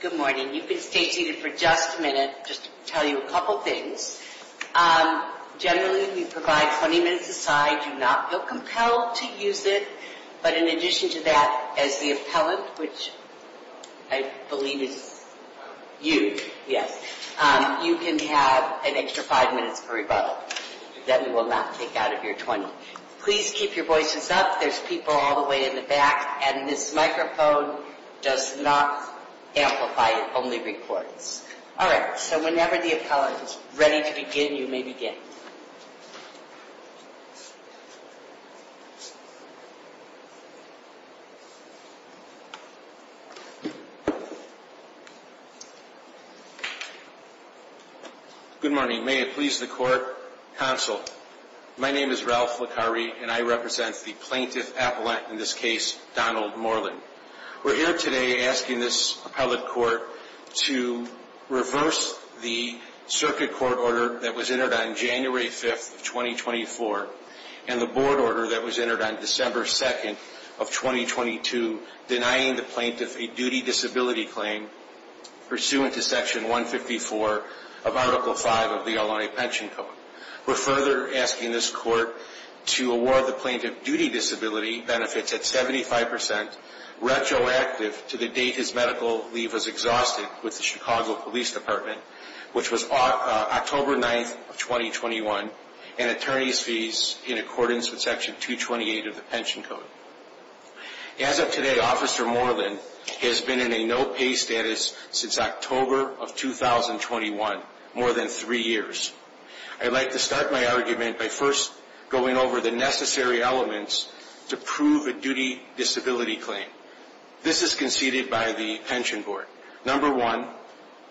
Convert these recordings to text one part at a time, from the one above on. Good morning. You can stay seated for just a minute, just to tell you a couple of things. Generally, we provide 20 minutes aside. Do not feel compelled to use it, but in addition to that, as the appellant, which I believe is you, yes, you can have an extra 5 minutes per rebuttal that we will not take out of your 20. Please keep your voices up. There's people all the way in the back, and this microphone does not amplify, it only records. Alright, so whenever the appellant is ready to begin, you may begin. Good morning. May it please the Court, Counsel, my name is Ralph Licari, and I represent the Plaintiff Appellant, in this case, Donald Moreland. We're here today asking this appellate court to reverse the circuit court order that was entered on January 5th of 2024, and the board order that was entered on December 2nd of 2022, denying the plaintiff a duty disability claim pursuant to Section 154 of Article 5 of the Illinois Pension Code. We're further asking this court to award the plaintiff duty disability benefits at 75%, retroactive to the date his medical leave was exhausted with the Chicago Police Department, which was October 9th of 2021, and attorney's fees in accordance with Section 228 of the Pension Code. As of today, Officer Moreland has been in a no-pay status since October of 2021, more than three years. I'd like to start my argument by first going over the necessary elements to prove a duty disability claim. This is conceded by the Pension Board. Number one,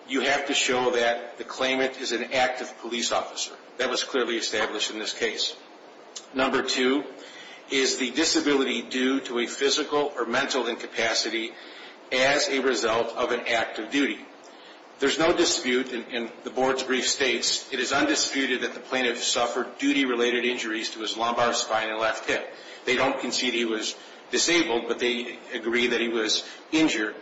you have to show that the claimant is an active police officer. That was clearly established in this case. Number two is the disability due to a physical or mental incapacity as a result of an act of duty. There's no dispute, and the board's brief states, it is undisputed that the plaintiff suffered duty-related injuries to his lumbar spine and left hip. They don't concede he was disabled, but they agree that he was injured.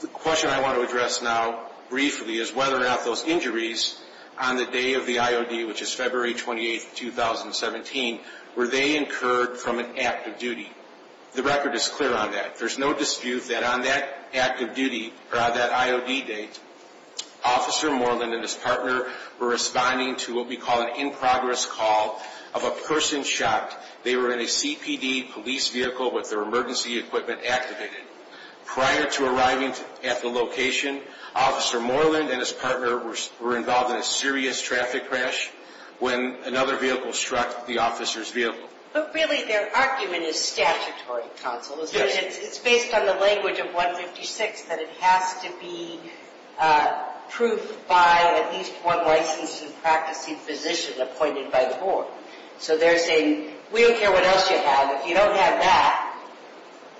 The question I want to address now briefly is whether or not those injuries on the day of the IOD, which is February 28th, 2017, were they incurred from an act of duty. The record is clear on that. There's no dispute that on that act of duty, or on that IOD date, Officer Moreland and his partner were responding to what we call an in-progress call of a person shot. They were in a CPD police vehicle with their emergency equipment activated. Prior to arriving at the location, Officer Moreland and his partner were involved in a serious traffic crash when another vehicle struck the officer's vehicle. But really, their argument is statutory, Counsel, is that it's based on the language of 156, that it has to be proved by at least one licensed and practicing physician appointed by the board. So they're saying, we don't care what else you have. If you don't have that,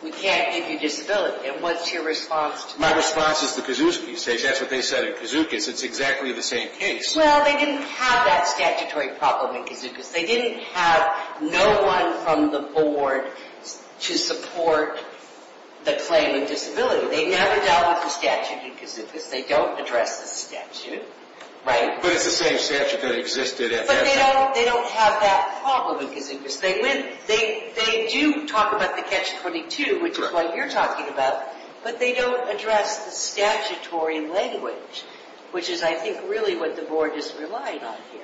we can't give you disability. And what's your response to that? My response is the Kozuckis case. That's what they said in Kozuckis. It's exactly the same case. Well, they didn't have that statutory problem in Kozuckis. They didn't have no one from the board to support the claim of disability. They never dealt with the statute in Kozuckis. They don't address the statute. Right. But it's the same statute that existed at that time. They don't have that problem in Kozuckis. They do talk about the Catch-22, which is what you're talking about, but they don't address the statutory language, which is, I think, really what the board is relying on here.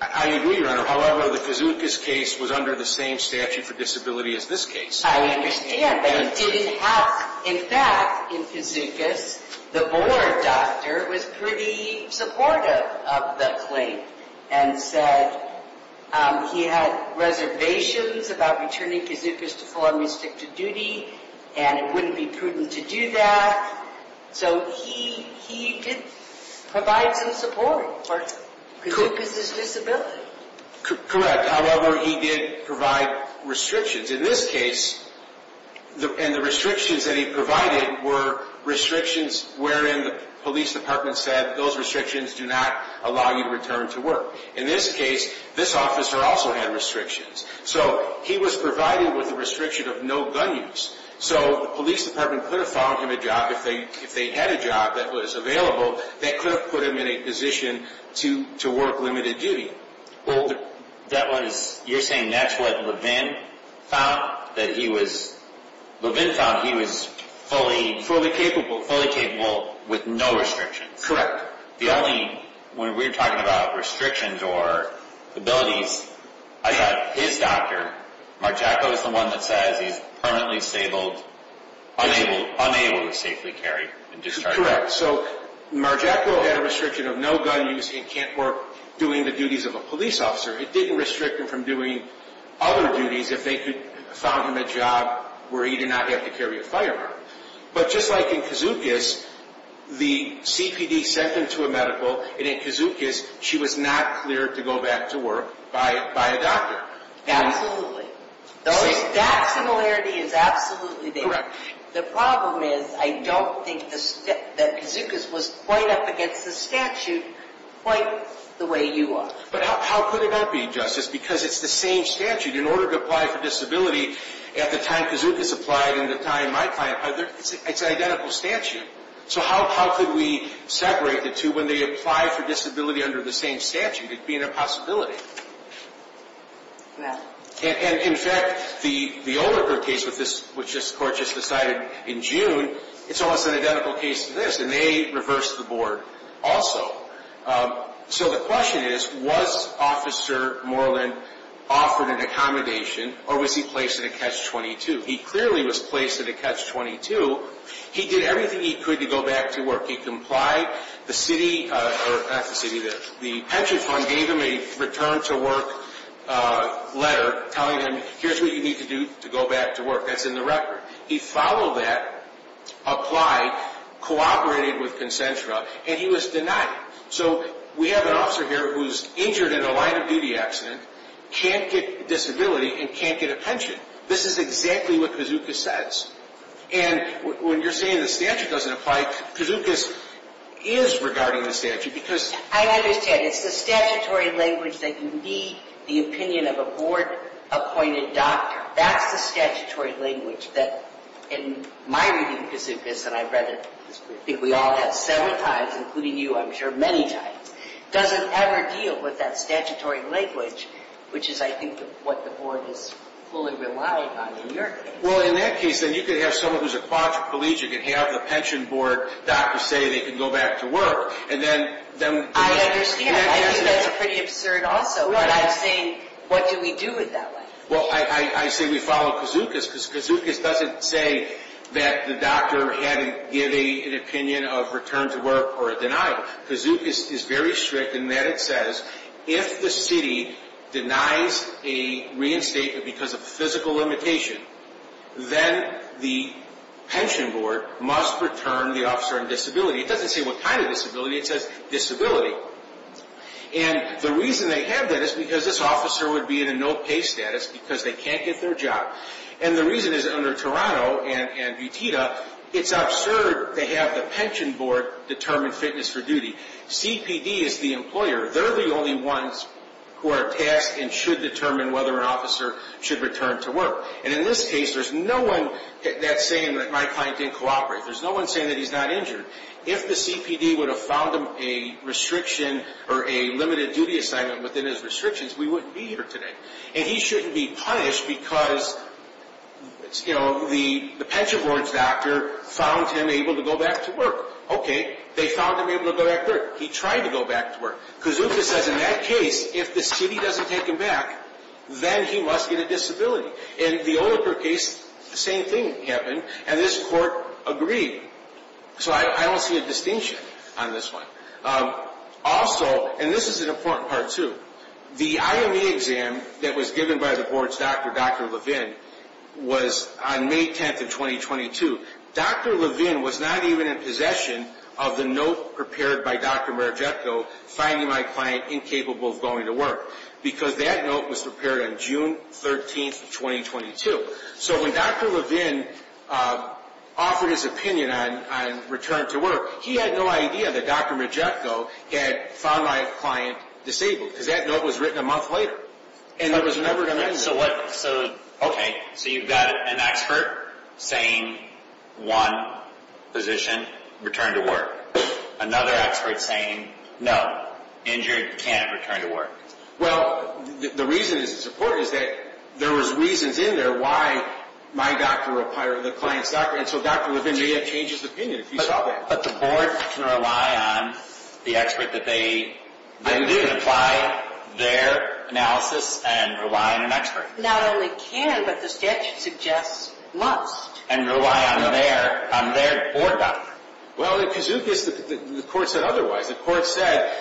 I agree, Your Honor. However, the Kozuckis case was under the same statute for disability as this case. I understand, but it didn't have – in fact, in Kozuckis, the board doctor was pretty supportive of the claim and said he had reservations about returning Kozuckis to full or restricted duty, and it wouldn't be prudent to do that. So he did provide some support for Kozuckis' disability. Correct. However, he did provide restrictions. In this case – and the restrictions that he provided were restrictions wherein the police department said those restrictions do not allow you to return to work. In this case, this officer also had restrictions. So he was provided with a restriction of no gun use. So the police department could have found him a job, if they had a job that was available, that could have put him in a position to work limited duty. Well, that was – you're saying that's what Levin found, that he was – Levin found he was fully – Fully capable. Fully capable with no restrictions. Correct. The only – when we're talking about restrictions or abilities, I thought his doctor, Marjacko, is the one that says he's permanently stable, unable to safely carry and discharge. Correct. So Marjacko had a restriction of no gun use and can't work doing the duties of a police officer. It didn't restrict him from doing other duties if they could – found him a job where he did not have to carry a firearm. But just like in Kizukis, the CPD sent him to a medical, and in Kizukis, she was not cleared to go back to work by a doctor. Absolutely. That similarity is absolutely there. The problem is, I don't think that Kizukis was quite up against the statute quite the way you are. But how could it not be, Justice, because it's the same statute. In order to apply for disability at the time Kizukis applied and the time my client applied, it's an identical statute. So how could we separate the two when they apply for disability under the same statute? It'd be an impossibility. Yeah. And in fact, the Olicker case, which this court just decided in June, it's almost an identical case to this, and they reversed the board also. So the question is, was Officer Moreland offered an accommodation, or was he placed in a catch-22? He clearly was placed in a catch-22. He did everything he could to go back to work. He complied. The city – or not the city, the pension fund gave him a return-to-work letter telling him, here's what you need to do to go back to work. That's in the record. He followed that, applied, cooperated with Concentra. And he was denied. So we have an officer here who's injured in a line-of-duty accident, can't get disability, and can't get a pension. This is exactly what Kizukis says. And when you're saying the statute doesn't apply, Kizukis is regarding the statute because – I understand. It's the statutory language that you need the opinion of a board-appointed doctor. That's the statutory language that, in my reading of Kizukis, and I've read it, I think we all have several times, including you, I'm sure, many times, doesn't ever deal with that statutory language, which is, I think, what the board is fully relying on in your case. Well, in that case, then you could have someone who's a quadriplegic and have the pension board doctor say they can go back to work, and then – I understand. I think that's pretty absurd also. But I'm saying, what do we do with that letter? Well, I say we follow Kizukis because Kizukis doesn't say that the doctor had to give an opinion of return to work or a denial. Kizukis is very strict in that it says, if the city denies a reinstatement because of a physical limitation, then the pension board must return the officer in disability. It doesn't say what kind of disability. It says disability. And the reason they have that is because this officer would be in a no-pay status because they can't get their job. And the reason is, under Toronto and Butita, it's absurd to have the pension board determine fitness for duty. CPD is the employer. They're the only ones who are tasked and should determine whether an officer should return to work. And in this case, there's no one that's saying that my client didn't cooperate. There's no one saying that he's not injured. If the CPD would have found him a restriction or a limited duty assignment within his restrictions, we wouldn't be here today. And he shouldn't be punished because, you know, the pension board's doctor found him able to go back to work. Okay, they found him able to go back to work. He tried to go back to work. Kizukis says, in that case, if the city doesn't take him back, then he must get a disability. In the Oliper case, the same thing happened, and this court agreed. So I don't see a distinction on this one. Also, and this is an important part, too, the IME exam that was given by the board's doctor, Dr. Levin, was on May 10th of 2022. Dr. Levin was not even in possession of the note prepared by Dr. Margetco, finding my client incapable of going to work, because that note was prepared on June 13th of 2022. So when Dr. Levin offered his opinion on return to work, he had no idea that Dr. Margetco had found my client disabled, because that note was written a month later, and it was never going to end. Okay, so you've got an expert saying, one, physician, return to work. Another expert saying, no, injured, can't return to work. Well, the reason this is important is that there was reasons in there why my doctor or the client's doctor, and so Dr. Levin may have changed his opinion if he saw that. But the board can rely on the expert that they do to apply their analysis and rely on an expert. Not only can, but the statute suggests must. And rely on their board doctor. Well, in Kizukis, the court said otherwise. The court said,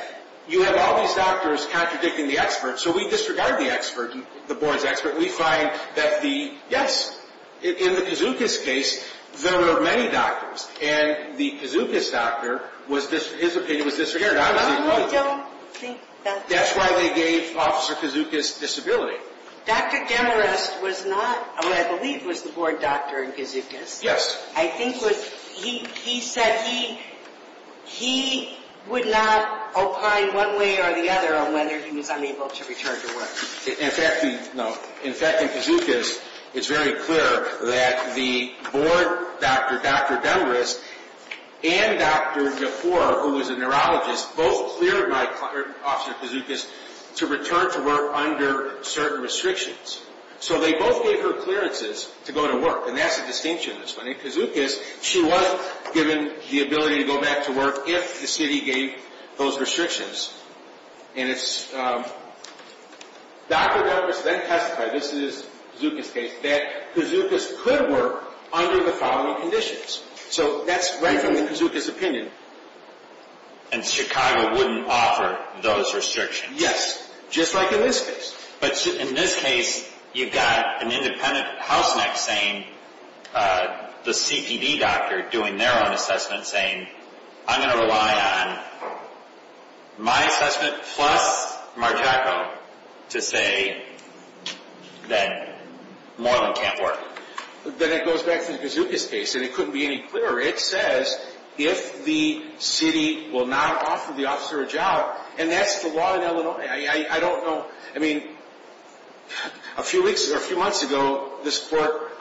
you have all these doctors contradicting the expert, so we disregard the expert, the board's expert. We find that the, yes, in the Kizukis case, there were many doctors, and the Kizukis doctor, his opinion was disappeared. I don't think that. That's why they gave Officer Kizukis disability. Dr. Demarest was not, or I believe was the board doctor in Kizukis. Yes. I think was, he said he would not opine one way or the other on whether he was unable to return to work. In fact, in Kizukis, it's very clear that the board doctor, Dr. Demarest, and Dr. Yapour, who was a neurologist, both cleared my client, Officer Kizukis, to return to work under certain restrictions. So they both gave her clearances to go to work, and that's the distinction in this one. In Kizukis, she was given the ability to go back to work if the city gave those restrictions. And it's, Dr. Demarest then testified, this is Kizukis case, that Kizukis could work under the following conditions. So that's right from the Kizukis opinion. And Chicago wouldn't offer those restrictions. Yes, just like in this case. But in this case, you've got an independent house neck saying, the CPD doctor doing their own assessment, saying, I'm going to rely on my assessment plus Marcello to say that Moreland can't work. Then it goes back to the Kizukis case, and it couldn't be any clearer. It says if the city will not offer the officer a job, and that's the law in Illinois. I don't know. I mean, a few weeks or a few months ago, this court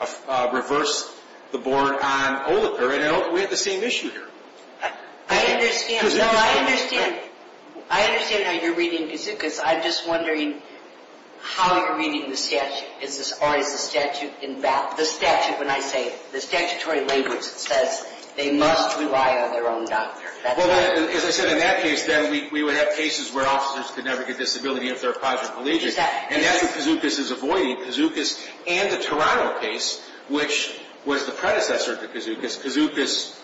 reversed the board on Oliper, and we had the same issue here. I understand. No, I understand. I understand how you're reading Kizukis. I'm just wondering how you're reading the statute. Is this always the statute in battle? The statute, when I say it, the statutory language says they must rely on their own doctor. Well, as I said, in that case, then we would have cases where officers could never get disability if they're a positive allegiance. And that's what Kizukis is avoiding. Kizukis and the Toronto case, which was the predecessor to Kizukis. Kizukis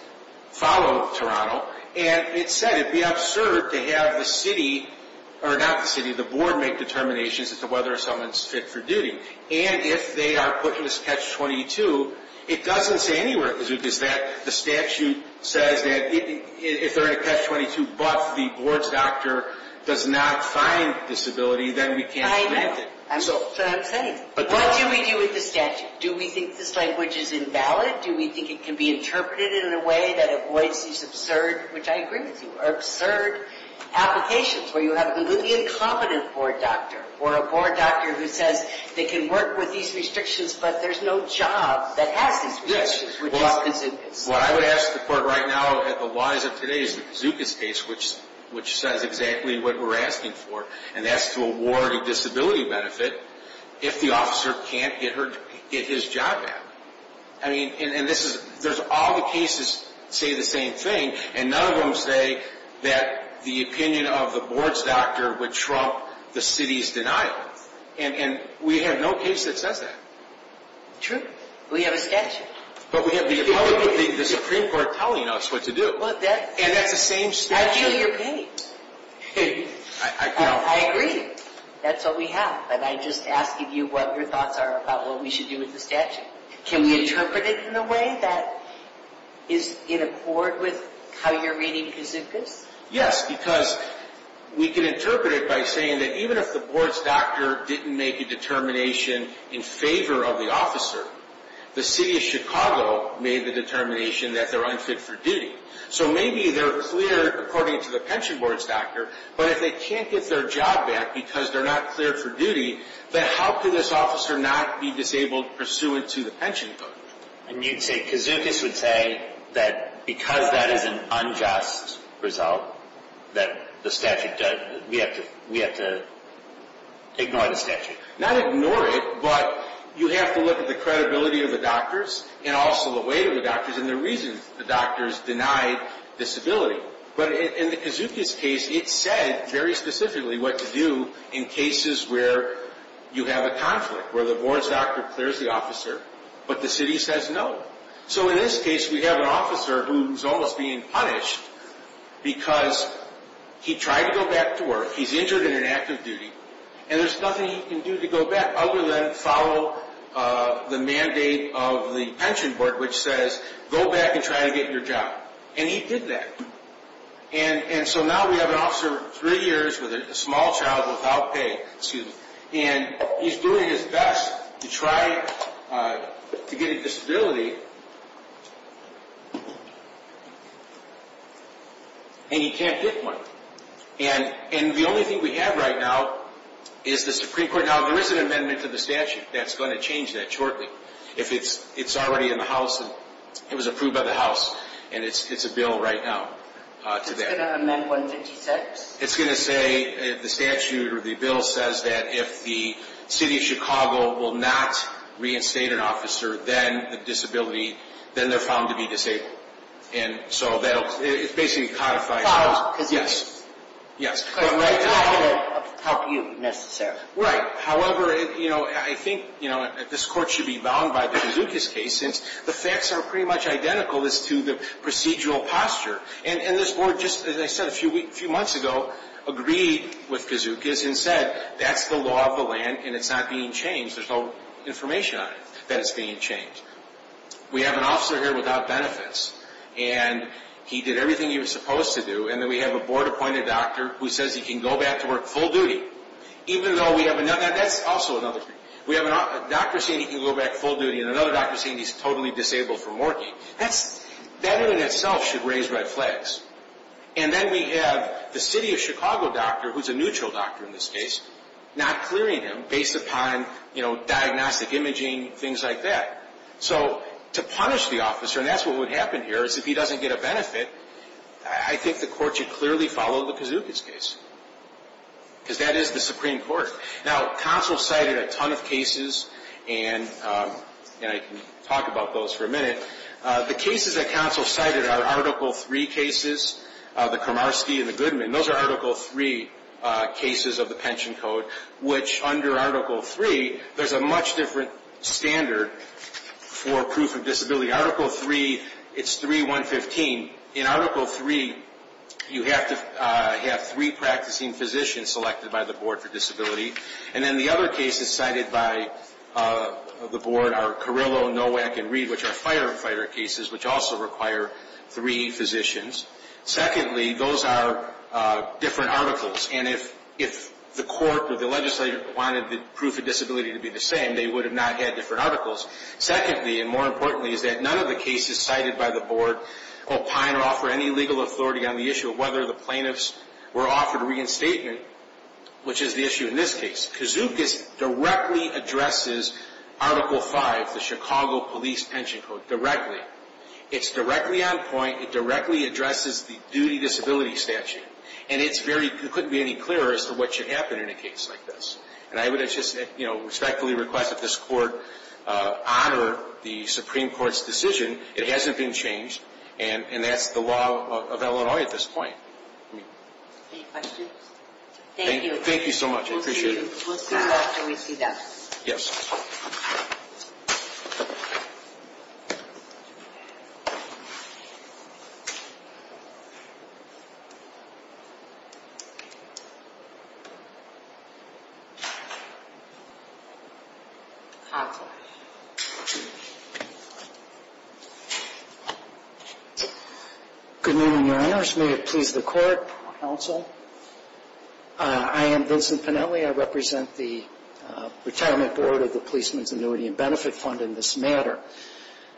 followed Toronto. And it said it would be absurd to have the city, or not the city, the board make determinations as to whether someone's fit for duty. And if they are put in this catch-22, it doesn't say anywhere at Kizukis that the statute says that if they're in a catch-22, but the board's doctor does not find disability, then we can't prevent it. I know. That's what I'm saying. What do we do with the statute? Do we think this language is invalid? Do we think it can be interpreted in a way that avoids these absurd, which I agree with you, absurd applications, where you have a completely incompetent board doctor, or a board doctor who says they can work with these restrictions, but there's no job that has these restrictions, which is Kizukis. What I would ask the court right now, at the wise of today, is the Kizukis case, which says exactly what we're asking for, and that's to award a disability benefit if the officer can't get his job back. And there's all the cases that say the same thing, and none of them say that the opinion of the board's doctor would trump the city's denial. And we have no case that says that. True. We have a statute. But we have the Supreme Court telling us what to do. And that's the same statute. I feel your pain. I agree. That's what we have. But I'm just asking you what your thoughts are about what we should do with the statute. Can we interpret it in a way that is in accord with how you're reading Kizukis? Yes, because we can interpret it by saying that even if the board's doctor didn't make a determination in favor of the officer, the city of Chicago made the determination that they're unfit for duty. So maybe they're clear according to the pension board's doctor, but if they can't get their job back because they're not cleared for duty, then how could this officer not be disabled pursuant to the pension code? And you'd say Kizukis would say that because that is an unjust result that the statute does, we have to ignore the statute? Not ignore it, but you have to look at the credibility of the doctors and also the weight of the doctors and the reasons the doctors denied disability. But in the Kizukis case, it said very specifically what to do in cases where you have a conflict, where the board's doctor clears the officer, but the city says no. So in this case, we have an officer who's almost being punished because he tried to go back to work, he's injured in an act of duty, and there's nothing he can do to go back other than follow the mandate of the pension board, which says go back and try to get your job. And he did that. And so now we have an officer three years with a small child without pay, and he's doing his best to try to get a disability, and he can't get one. And the only thing we have right now is the Supreme Court. Now, there is an amendment to the statute that's going to change that shortly. It's already in the House, and it was approved by the House, and it's a bill right now to that. It's going to amend 156? It's going to say the statute or the bill says that if the city of Chicago will not reinstate an officer, then the disability, then they're found to be disabled. And so it's basically codified. Yes. But it's not going to help you necessarily. Right. However, you know, I think this court should be bound by the Kazookas case since the facts are pretty much identical as to the procedural posture. And this board just, as I said a few months ago, agreed with Kazookas and said that's the law of the land and it's not being changed. There's no information on it that it's being changed. We have an officer here without benefits, and he did everything he was supposed to do, and then we have a board-appointed doctor who says he can go back to work full duty. That's also another thing. We have a doctor saying he can go back full duty and another doctor saying he's totally disabled from working. That in and of itself should raise red flags. And then we have the city of Chicago doctor, who's a neutral doctor in this case, not clearing him based upon, you know, diagnostic imaging, things like that. So to punish the officer, and that's what would happen here, is if he doesn't get a benefit, I think the court should clearly follow the Kazookas case because that is the Supreme Court. Now, counsel cited a ton of cases, and I can talk about those for a minute. The cases that counsel cited are Article III cases, the Komarsky and the Goodman. Those are Article III cases of the pension code, which under Article III, there's a much different standard for proof of disability. Article III, it's 3.115. In Article III, you have to have three practicing physicians selected by the board for disability, and then the other cases cited by the board are Carillo, Nowak, and Reed, which are firefighter cases, which also require three physicians. Secondly, those are different articles, and if the court or the legislator wanted the proof of disability to be the same, they would have not had different articles. Secondly, and more importantly, is that none of the cases cited by the board opine or offer any legal authority on the issue of whether the plaintiffs were offered reinstatement, which is the issue in this case. Kazookas directly addresses Article V, the Chicago Police Pension Code, directly. It's directly on point. It directly addresses the duty disability statute, and it couldn't be any clearer as to what should happen in a case like this. And I would just respectfully request that this court honor the Supreme Court's decision. It hasn't been changed, and that's the law of Illinois at this point. Any questions? Thank you. Thank you so much. I appreciate it. We'll see you after we see that. Yes. Hotline. Good morning, Your Honors. May it please the court, counsel. I am Vincent Pennelly. I represent the Retirement Board of the Policeman's Annuity and Benefit Fund in this matter.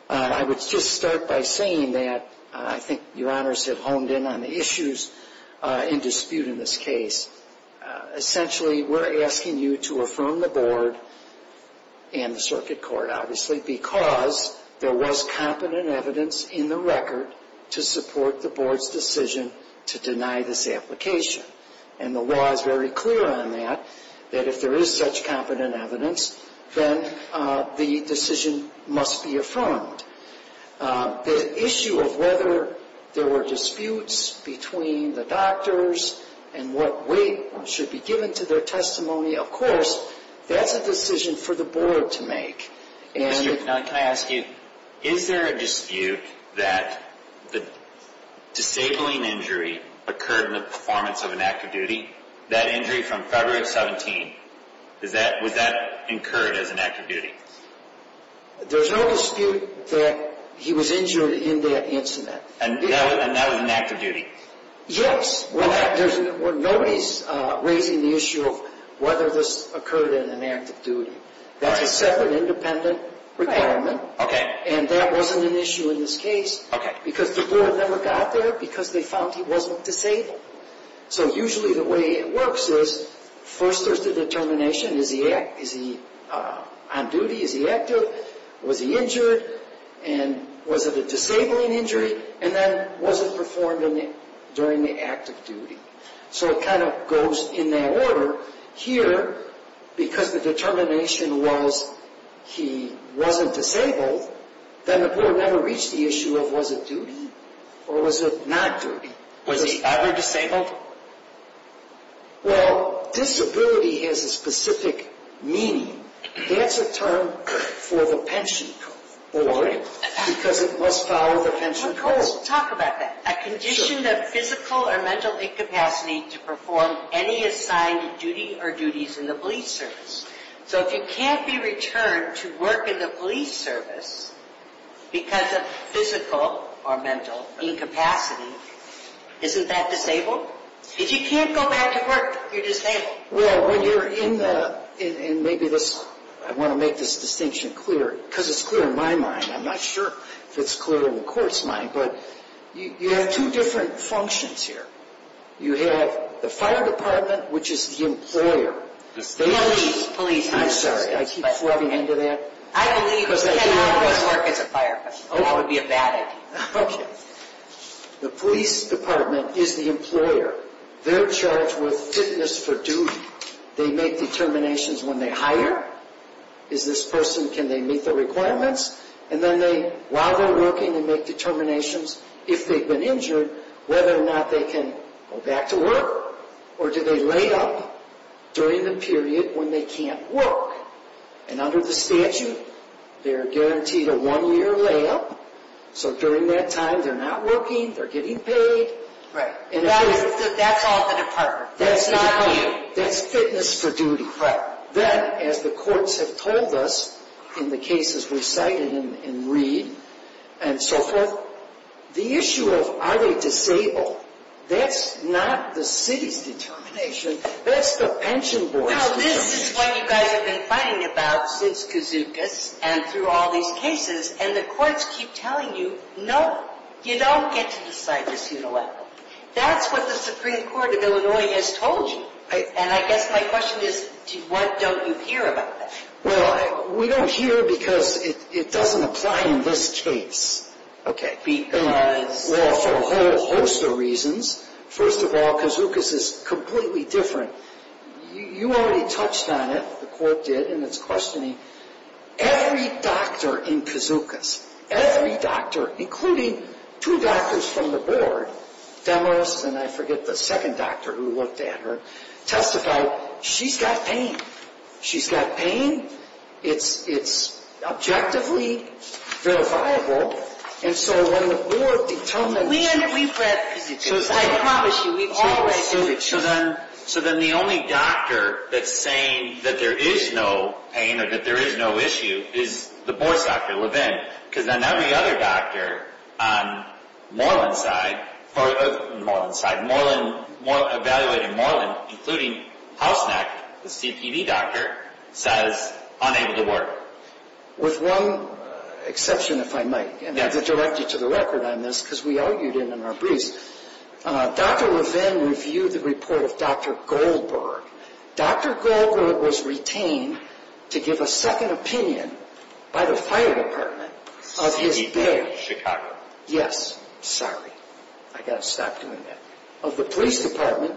I would just start by saying that I think Your Honors have honed in on the issues in dispute in this case. Essentially, we're asking you to affirm the board and the circuit court, obviously, because there was competent evidence in the record to support the board's decision to deny this application. And the law is very clear on that, that if there is such competent evidence, then the decision must be affirmed. The issue of whether there were disputes between the doctors and what weight should be given to their testimony, of course, that's a decision for the board to make. Mr. Pennelly, can I ask you, is there a dispute that the disabling injury occurred in the performance of an active duty? That injury from February of 17, was that incurred as an active duty? There's no dispute that he was injured in that incident. And that was an active duty? Yes. Well, nobody's raising the issue of whether this occurred in an active duty. That's a separate, independent requirement. Okay. And that wasn't an issue in this case. Okay. Because the board never got there because they found he wasn't disabled. So usually the way it works is, first there's the determination, is he on duty? Is he active? Was he injured? And was it a disabling injury? And then was it performed during the active duty? So it kind of goes in that order. Here, because the determination was he wasn't disabled, then the board never reached the issue of was it duty or was it not duty? Was he ever disabled? Well, disability has a specific meaning. That's a term for the pension board because it must follow the pension code. Talk about that. A condition of physical or mental incapacity to perform any assigned duty or duties in the police service. So if you can't be returned to work in the police service because of physical or mental incapacity, isn't that disabled? If you can't go back to work, you're disabled. Well, when you're in the, and maybe this, I want to make this distinction clear because it's clear in my mind. I'm not sure if it's clear in the court's mind, but you have two different functions here. You have the fire department, which is the employer. Police, police. I'm sorry. I keep flubbing into that. I believe we can always work as a fire department. That would be a bad idea. Okay. The police department is the employer. They're charged with fitness for duty. They make determinations when they hire. Is this person, can they meet the requirements? And then they, while they're working, they make determinations if they've been injured, whether or not they can go back to work. Or do they lay up during the period when they can't work? And under the statute, they're guaranteed a one-year layup. So during that time, they're not working, they're getting paid. Right. That's all the department. That's not you. That's fitness for duty. Then, as the courts have told us in the cases we cited in Reed and so forth, the issue of are they disabled, that's not the city's determination. That's the pension board's determination. Well, this is what you guys have been fighting about since Kazookas and through all these cases, and the courts keep telling you, no, you don't get to decide this, you know what? That's what the Supreme Court of Illinois has told you. And I guess my question is, what don't you hear about that? Well, we don't hear because it doesn't apply in this case. Okay. Because? Well, for a whole host of reasons. First of all, Kazookas is completely different. You already touched on it, the court did, in its questioning. Every doctor in Kazookas, every doctor, including two doctors from the board, Demos and I forget the second doctor who looked at her, testified she's got pain. She's got pain. It's objectively verifiable. And so when the board determines. We've read Kazookas. I promise you, we've all read Kazookas. So then the only doctor that's saying that there is no pain or that there is no issue is the board's doctor, Levin. Because then every other doctor on Moreland's side, on Moreland's side, evaluating Moreland, including Hausnacht, the CTV doctor, says unable to work. With one exception, if I might. And I have to direct you to the record on this because we argued it in our briefs. Dr. Levin reviewed the report of Dr. Goldberg. Dr. Goldberg was retained to give a second opinion by the fire department of his bag. CTV, Chicago. Yes. Sorry. I've got to stop doing that. Of the police department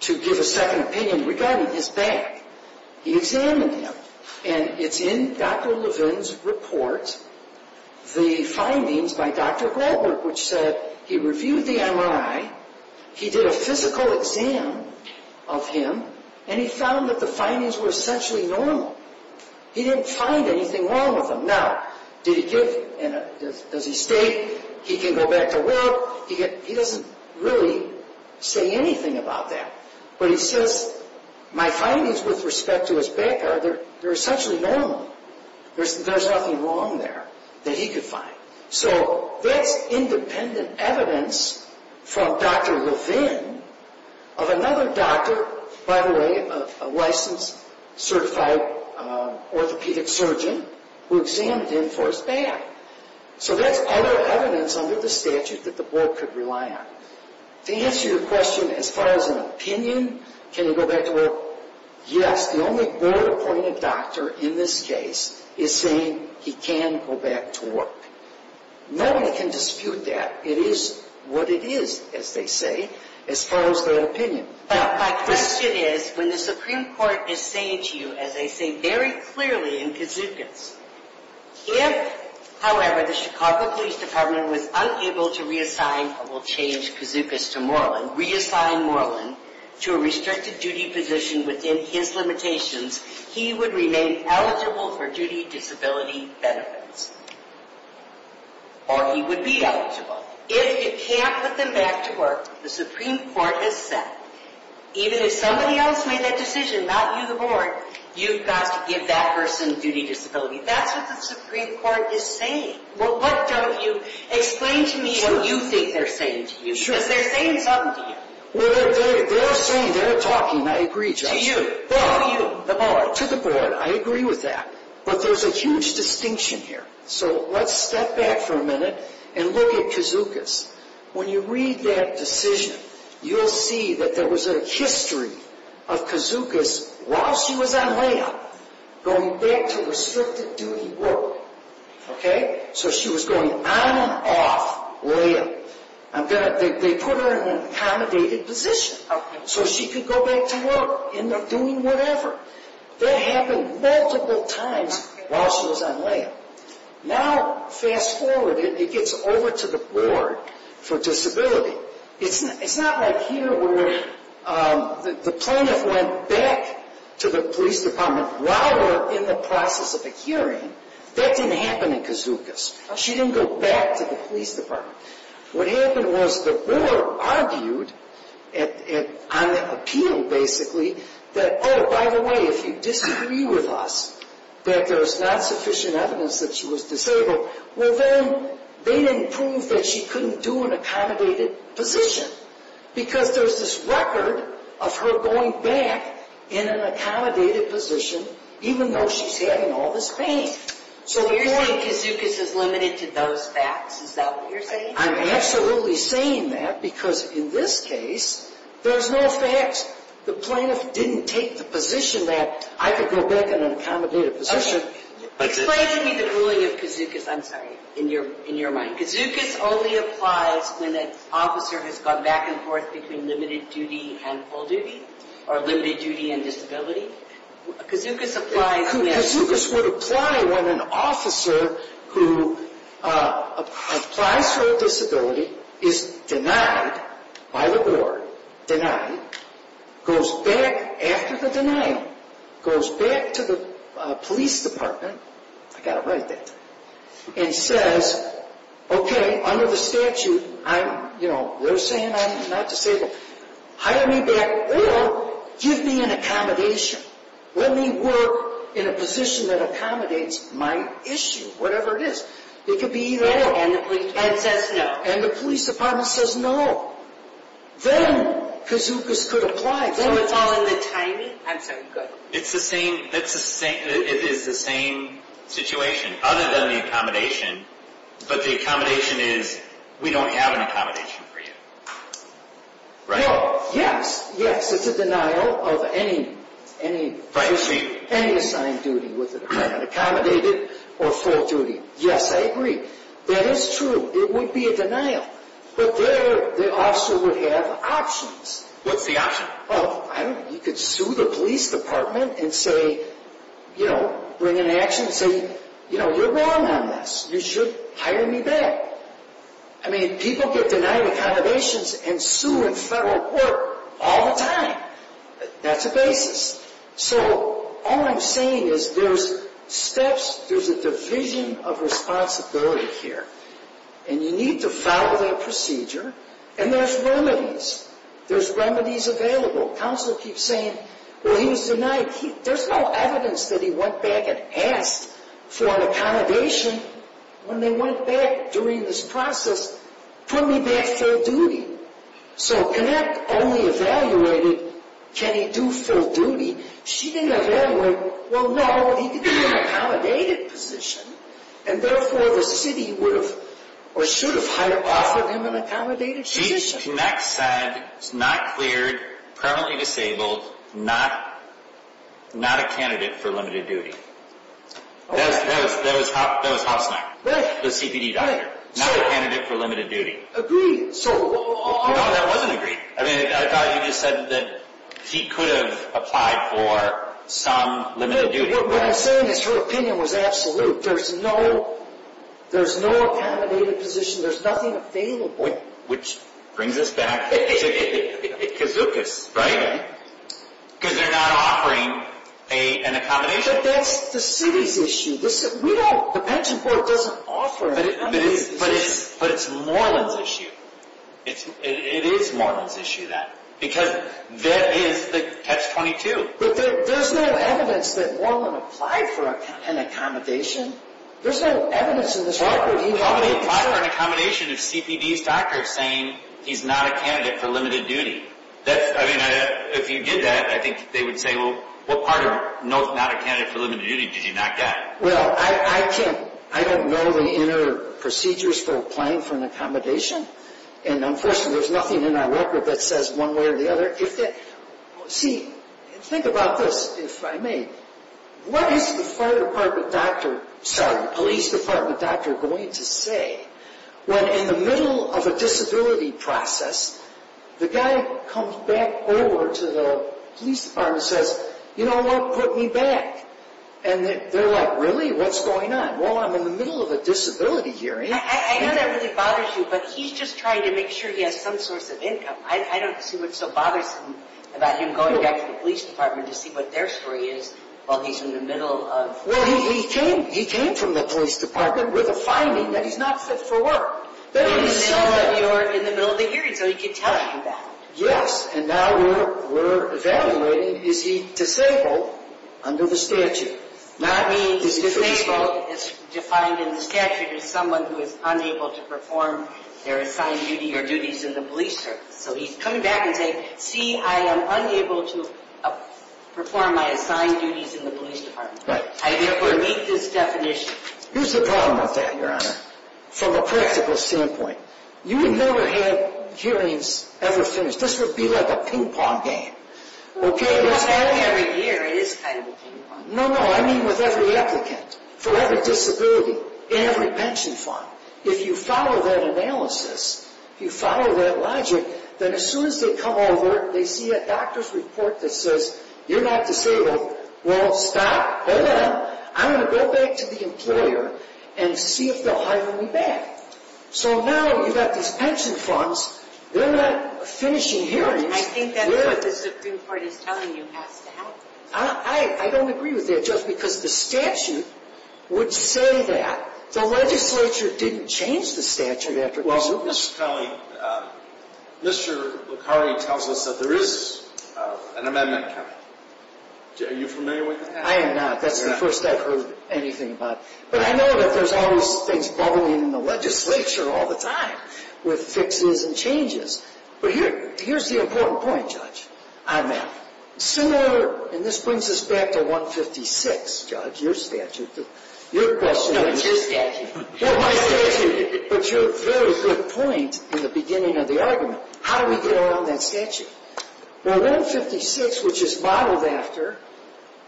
to give a second opinion regarding his bag. He examined him. And it's in Dr. Levin's report, the findings by Dr. Goldberg, which said he reviewed the MRI. He did a physical exam of him. And he found that the findings were essentially normal. He didn't find anything wrong with him. Now, did he give. Does he stay. He can go back to work. He doesn't really say anything about that. But he says my findings with respect to his bag are essentially normal. There's nothing wrong there that he could find. So that's independent evidence from Dr. Levin of another doctor, by the way, a licensed certified orthopedic surgeon who examined him for his bag. So that's other evidence under the statute that the board could rely on. To answer your question as far as an opinion, can he go back to work, yes. The only board-appointed doctor in this case is saying he can go back to work. Nobody can dispute that. It is what it is, as they say, as far as their opinion. My question is, when the Supreme Court is saying to you, as they say very clearly in Kazuka's, if, however, the Chicago Police Department was unable to reassign or will change Kazuka's to Moreland, reassign Moreland to a restricted duty position within his limitations, he would remain eligible for duty disability benefits. Or he would be eligible. If you can't put them back to work, the Supreme Court has said, even if somebody else made that decision, not you, the board, you've got to give that person duty disability. That's what the Supreme Court is saying. Explain to me what you think they're saying to you. Because they're saying something to you. They're saying, they're talking, I agree, Justice. To you, to you, the board. To the board, I agree with that. But there's a huge distinction here. So let's step back for a minute and look at Kazuka's. When you read that decision, you'll see that there was a history of Kazuka's, while she was on layup, going back to restricted duty work. Okay? So she was going on and off layup. They put her in an accommodated position so she could go back to work, end up doing whatever. That happened multiple times while she was on layup. Now, fast forward, it gets over to the board for disability. It's not like here where the plaintiff went back to the police department while we're in the process of a hearing. That didn't happen in Kazuka's. She didn't go back to the police department. What happened was the board argued on the appeal, basically, that, oh, by the way, if you disagree with us that there's not sufficient evidence that she was disabled, well, then they didn't prove that she couldn't do an accommodated position because there's this record of her going back in an accommodated position, even though she's having all this pain. So you're saying Kazuka's is limited to those facts? Is that what you're saying? I'm absolutely saying that because, in this case, there's no facts. The plaintiff didn't take the position that I could go back in an accommodated position. Explain to me the ruling of Kazuka's, I'm sorry, in your mind. Kazuka's only applies when an officer has gone back and forth between limited duty and full duty or limited duty and disability. Kazuka's applies when… Kazuka's would apply when an officer who applies for a disability is denied by the board, denied, goes back after the denial, goes back to the police department, I've got to write that, and says, okay, under the statute, I'm, you know, they're saying I'm not disabled. Hire me back or give me an accommodation. Let me work in a position that accommodates my issue, whatever it is. It could be either or. And the police department says no. And the police department says no. Then Kazuka's could apply. So it's all in the timing? I'm sorry, go ahead. It's the same, it is the same situation, other than the accommodation, but the accommodation is, we don't have an accommodation for you. No, yes, yes, it's a denial of any… Right, so you… Any assigned duty, whether it's accommodated or full duty. Yes, I agree. That is true. It would be a denial. But there, the officer would have options. What's the option? Well, I don't know. He could sue the police department and say, you know, bring an action and say, you know, you're wrong on this. You should hire me back. I mean, people get denied accommodations and sue in federal court all the time. That's a basis. So all I'm saying is there's steps, there's a division of responsibility here, and you need to follow that procedure, and there's remedies. There's remedies available. Counselor keeps saying, well, he was denied. There's no evidence that he went back and asked for an accommodation when they went back during this process. Put me back full duty. So Connect only evaluated, can he do full duty? She didn't evaluate, well, no, he could do an accommodated position, and therefore the city would have or should have offered him an accommodated position. She, Connect said, it's not cleared, permanently disabled, not a candidate for limited duty. That was Hoffstein, the CPD doctor. Not a candidate for limited duty. Agreed. No, that wasn't agreed. I thought you just said that he could have applied for some limited duty. No, what I'm saying is her opinion was absolute. There's no accommodated position. There's nothing available. Which brings us back to Kazookas, right? Because they're not offering an accommodation. But that's the city's issue. We don't. The pension board doesn't offer it. But it's Moreland's issue. It is Moreland's issue, that. Because that is the catch-22. But there's no evidence that Moreland applied for an accommodation. There's no evidence in this record. How could he apply for an accommodation if CPD's doctor is saying he's not a candidate for limited duty? I mean, if you did that, I think they would say, well, what part of not a candidate for limited duty did you not get? Well, I don't know the inner procedures for applying for an accommodation. And, unfortunately, there's nothing in our record that says one way or the other. See, think about this, if I may. What is the police department doctor going to say when, in the middle of a disability process, the guy comes back over to the police department and says, you know what? Put me back. And they're like, really? What's going on? Well, I'm in the middle of a disability hearing. I know that really bothers you, but he's just trying to make sure he has some source of income. I don't see what's so bothersome about him going back to the police department to see what their story is while he's in the middle of... Well, he came from the police department with a finding that he's not fit for work. But he's in the middle of the hearing, so he could tell you that. Yes, and now we're evaluating, is he disabled under the statute? That means disabled is defined in the statute as someone who is unable to perform their assigned duty or duties in the police service. So he's coming back and saying, see, I am unable to perform my assigned duties in the police department. I therefore meet this definition. Here's the problem with that, Your Honor, from a practical standpoint. You would never have hearings ever finished. This would be like a ping-pong game. Well, not every year. It is kind of a ping-pong game. No, no, I mean with every applicant, for every disability, in every pension fund. If you follow that analysis, if you follow that logic, then as soon as they come over, they see a doctor's report that says you're not disabled. Well, stop. Hold on. I'm going to go back to the employer and see if they'll hire me back. So now you've got these pension funds. They're not finishing hearings. I think that's what the Supreme Court is telling you has to happen. I don't agree with that just because the statute would say that. The legislature didn't change the statute after this. Well, Mr. Kelly, Mr. Lucari tells us that there is an amendment coming. Are you familiar with that? I am not. That's the first I've heard anything about it. But I know that there's always things bubbling in the legislature all the time with fixes and changes. But here's the important point, Judge. Similar, and this brings us back to 156, Judge, your statute. No, it's your statute. But your very good point in the beginning of the argument. How do we get around that statute? Well, 156, which is modeled after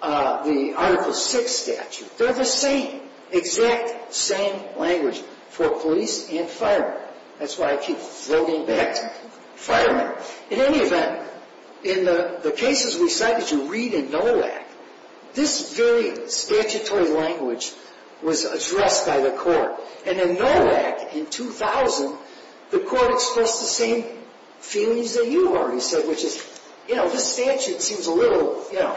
the Article VI statute, they're the same, exact same language for police and firemen. That's why I keep throwing back to firemen. In any event, in the cases we cite that you read in NOLAC, this very statutory language was addressed by the court. And in NOLAC in 2000, the court expressed the same feelings that you already said, which is, you know, this statute seems a little, you know,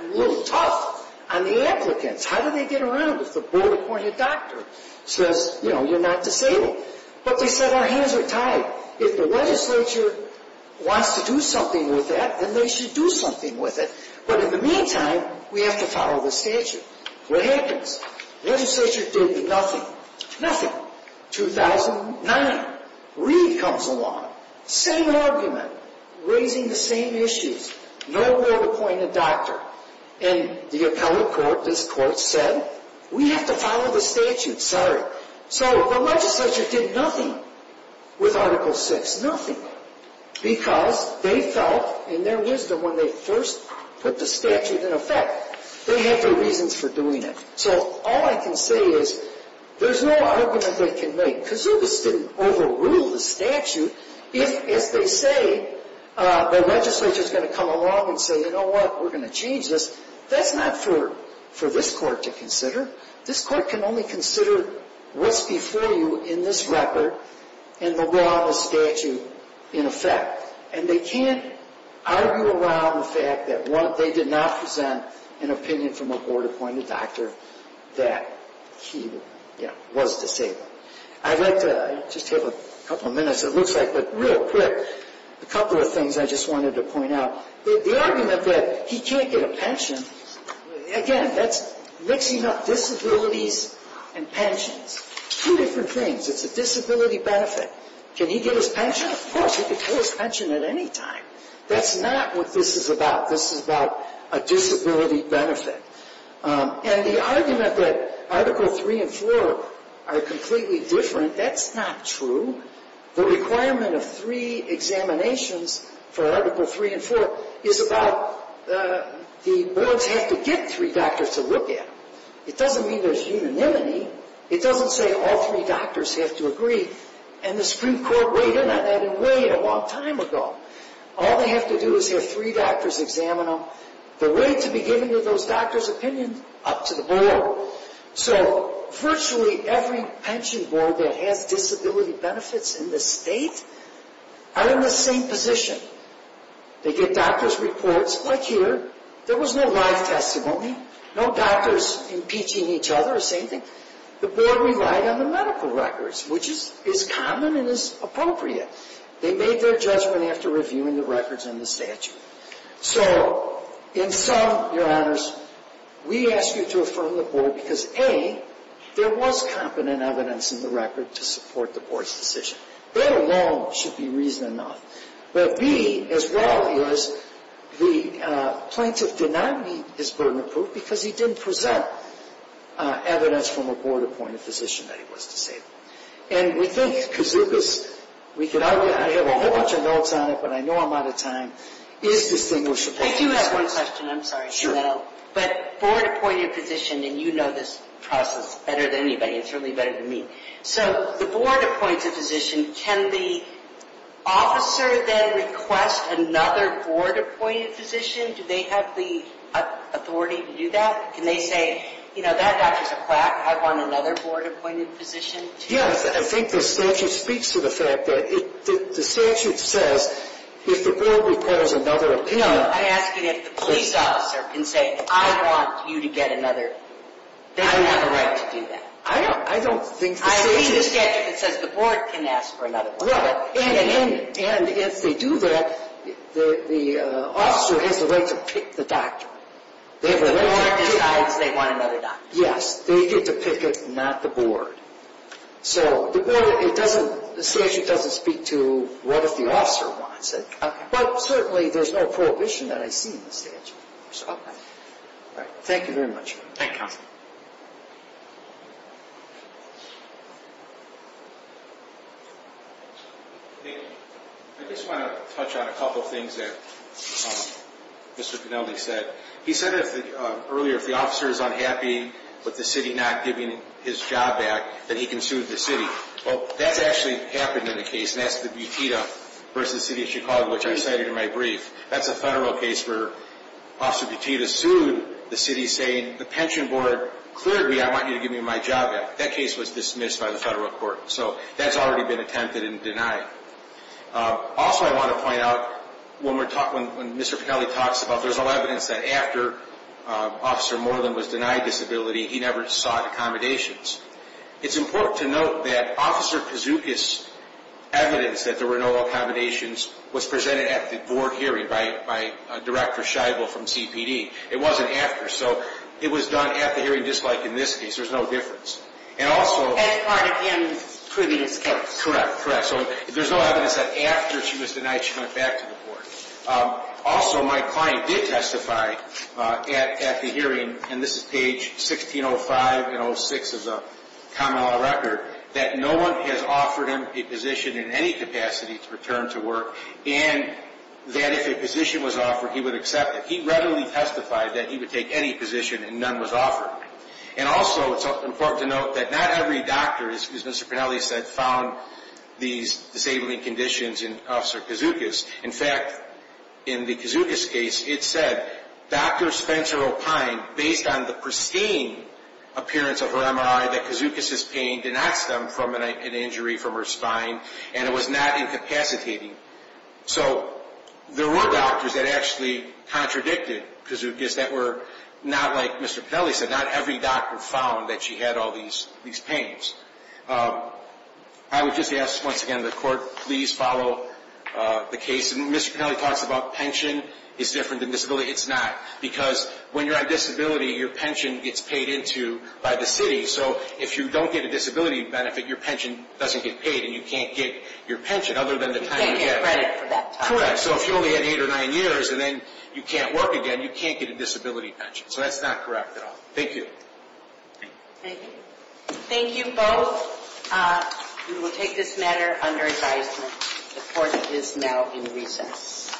a little tough on the applicants. How do they get around if the board-appointed doctor says, you know, you're not disabled? But they said our hands are tied. If the legislature wants to do something with that, then they should do something with it. But in the meantime, we have to follow the statute. What happens? Legislature did nothing. 2009. Reid comes along, same argument, raising the same issues. No board-appointed doctor. And the appellate court, this court, said, we have to follow the statute, sorry. So the legislature did nothing with Article VI. Nothing. Because they felt in their wisdom when they first put the statute in effect, they had their reasons for doing it. So all I can say is, there's no argument they can make. Because they just didn't overrule the statute. If, as they say, the legislature is going to come along and say, you know what, we're going to change this, that's not for this court to consider. This court can only consider what's before you in this record and the law and the statute in effect. And they can't argue around the fact that they did not present an opinion from a board-appointed doctor that he was disabled. I'd like to just take a couple of minutes, it looks like, but real quick, a couple of things I just wanted to point out. The argument that he can't get a pension, again, that's mixing up disabilities and pensions. Two different things. It's a disability benefit. Can he get his pension? Yeah, of course, he can get his pension at any time. That's not what this is about. This is about a disability benefit. And the argument that Article 3 and 4 are completely different, that's not true. The requirement of three examinations for Article 3 and 4 is about the boards have to get three doctors to look at them. It doesn't mean there's unanimity. It doesn't say all three doctors have to agree. And the Supreme Court weighed in on that a long time ago. All they have to do is have three doctors examine them. They're ready to be given to those doctors' opinions up to the board. So virtually every pension board that has disability benefits in the state are in the same position. They get doctors' reports, like here. There was no live testimony. No doctors impeaching each other, the same thing. The board relied on the medical records, which is common and is appropriate. They made their judgment after reviewing the records in the statute. So in sum, Your Honors, we ask you to affirm the board because, A, there was competent evidence in the record to support the board's decision. That alone should be reason enough. But B, as well, is the plaintiff did not meet his burden of proof because he didn't present evidence from a board-appointed physician that he was disabled. And we think Kazuka's, I have a whole bunch of notes on it, but I know I'm out of time, is distinguishable. I do have one question. I'm sorry to let out. Sure. But board-appointed physician, and you know this process better than anybody, and certainly better than me. So the board appoints a physician. Can the officer then request another board-appointed physician? Do they have the authority to do that? Can they say, you know, that doctor's a quack. I want another board-appointed physician. Yes, I think the statute speaks to the fact that the statute says if the board requires another opinion. I'm asking if the police officer can say, I want you to get another. They don't have the right to do that. I don't think the statute. I read the statute that says the board can ask for another board-appointed physician. And if they do that, the officer has the right to pick the doctor. The board decides they want another doctor. Yes, they get to pick it, not the board. So the board, it doesn't, the statute doesn't speak to what if the officer wants it. Okay. But certainly there's no prohibition that I see in the statute. Okay. All right. Thank you very much. Thank you, counsel. Thank you. I just want to touch on a couple things that Mr. Penalty said. He said earlier if the officer is unhappy with the city not giving his job back, that he can sue the city. Well, that's actually happened in the case, and that's the Butita v. City of Chicago, which I cited in my brief. That's a federal case where Officer Butita sued the city, saying the pension board cleared me. I want you to give me my job back. That case was dismissed by the federal court. So that's already been attempted and denied. Also, I want to point out when Mr. Penalty talks about there's no evidence that after Officer Moreland was denied disability, he never sought accommodations. It's important to note that Officer Kouzoukis' evidence that there were no accommodations was presented at the board hearing by Director Scheibel from CPD. It wasn't after, so it was done at the hearing, just like in this case. There's no difference. That's part of him proving his case. Correct, correct. So there's no evidence that after she was denied she went back to the board. Also, my client did testify at the hearing, and this is page 1605 and 06 of the common law record, that no one has offered him a position in any capacity to return to work, and that if a position was offered, he would accept it. He readily testified that he would take any position, and none was offered. And also, it's important to note that not every doctor, as Mr. Penalty said, found these disabling conditions in Officer Kouzoukis. In fact, in the Kouzoukis case, it said, Dr. Spencer O'Pine, based on the pristine appearance of her MRI, that Kouzoukis' pain did not stem from an injury from her spine, and it was not incapacitating. So there were doctors that actually contradicted Kouzoukis that were not like Mr. Penalty said. Not every doctor found that she had all these pains. I would just ask, once again, the Court, please follow the case. Mr. Penalty talks about pension is different than disability. It's not, because when you're on disability, your pension gets paid into by the city, so if you don't get a disability benefit, your pension doesn't get paid, and you can't get your pension other than the time you get it. You can't get credit for that time. Correct. So if you only have eight or nine years, and then you can't work again, you can't get a disability pension. So that's not correct at all. Thank you. Thank you. Thank you both. We will take this matter under advisement. The Court is now in recess.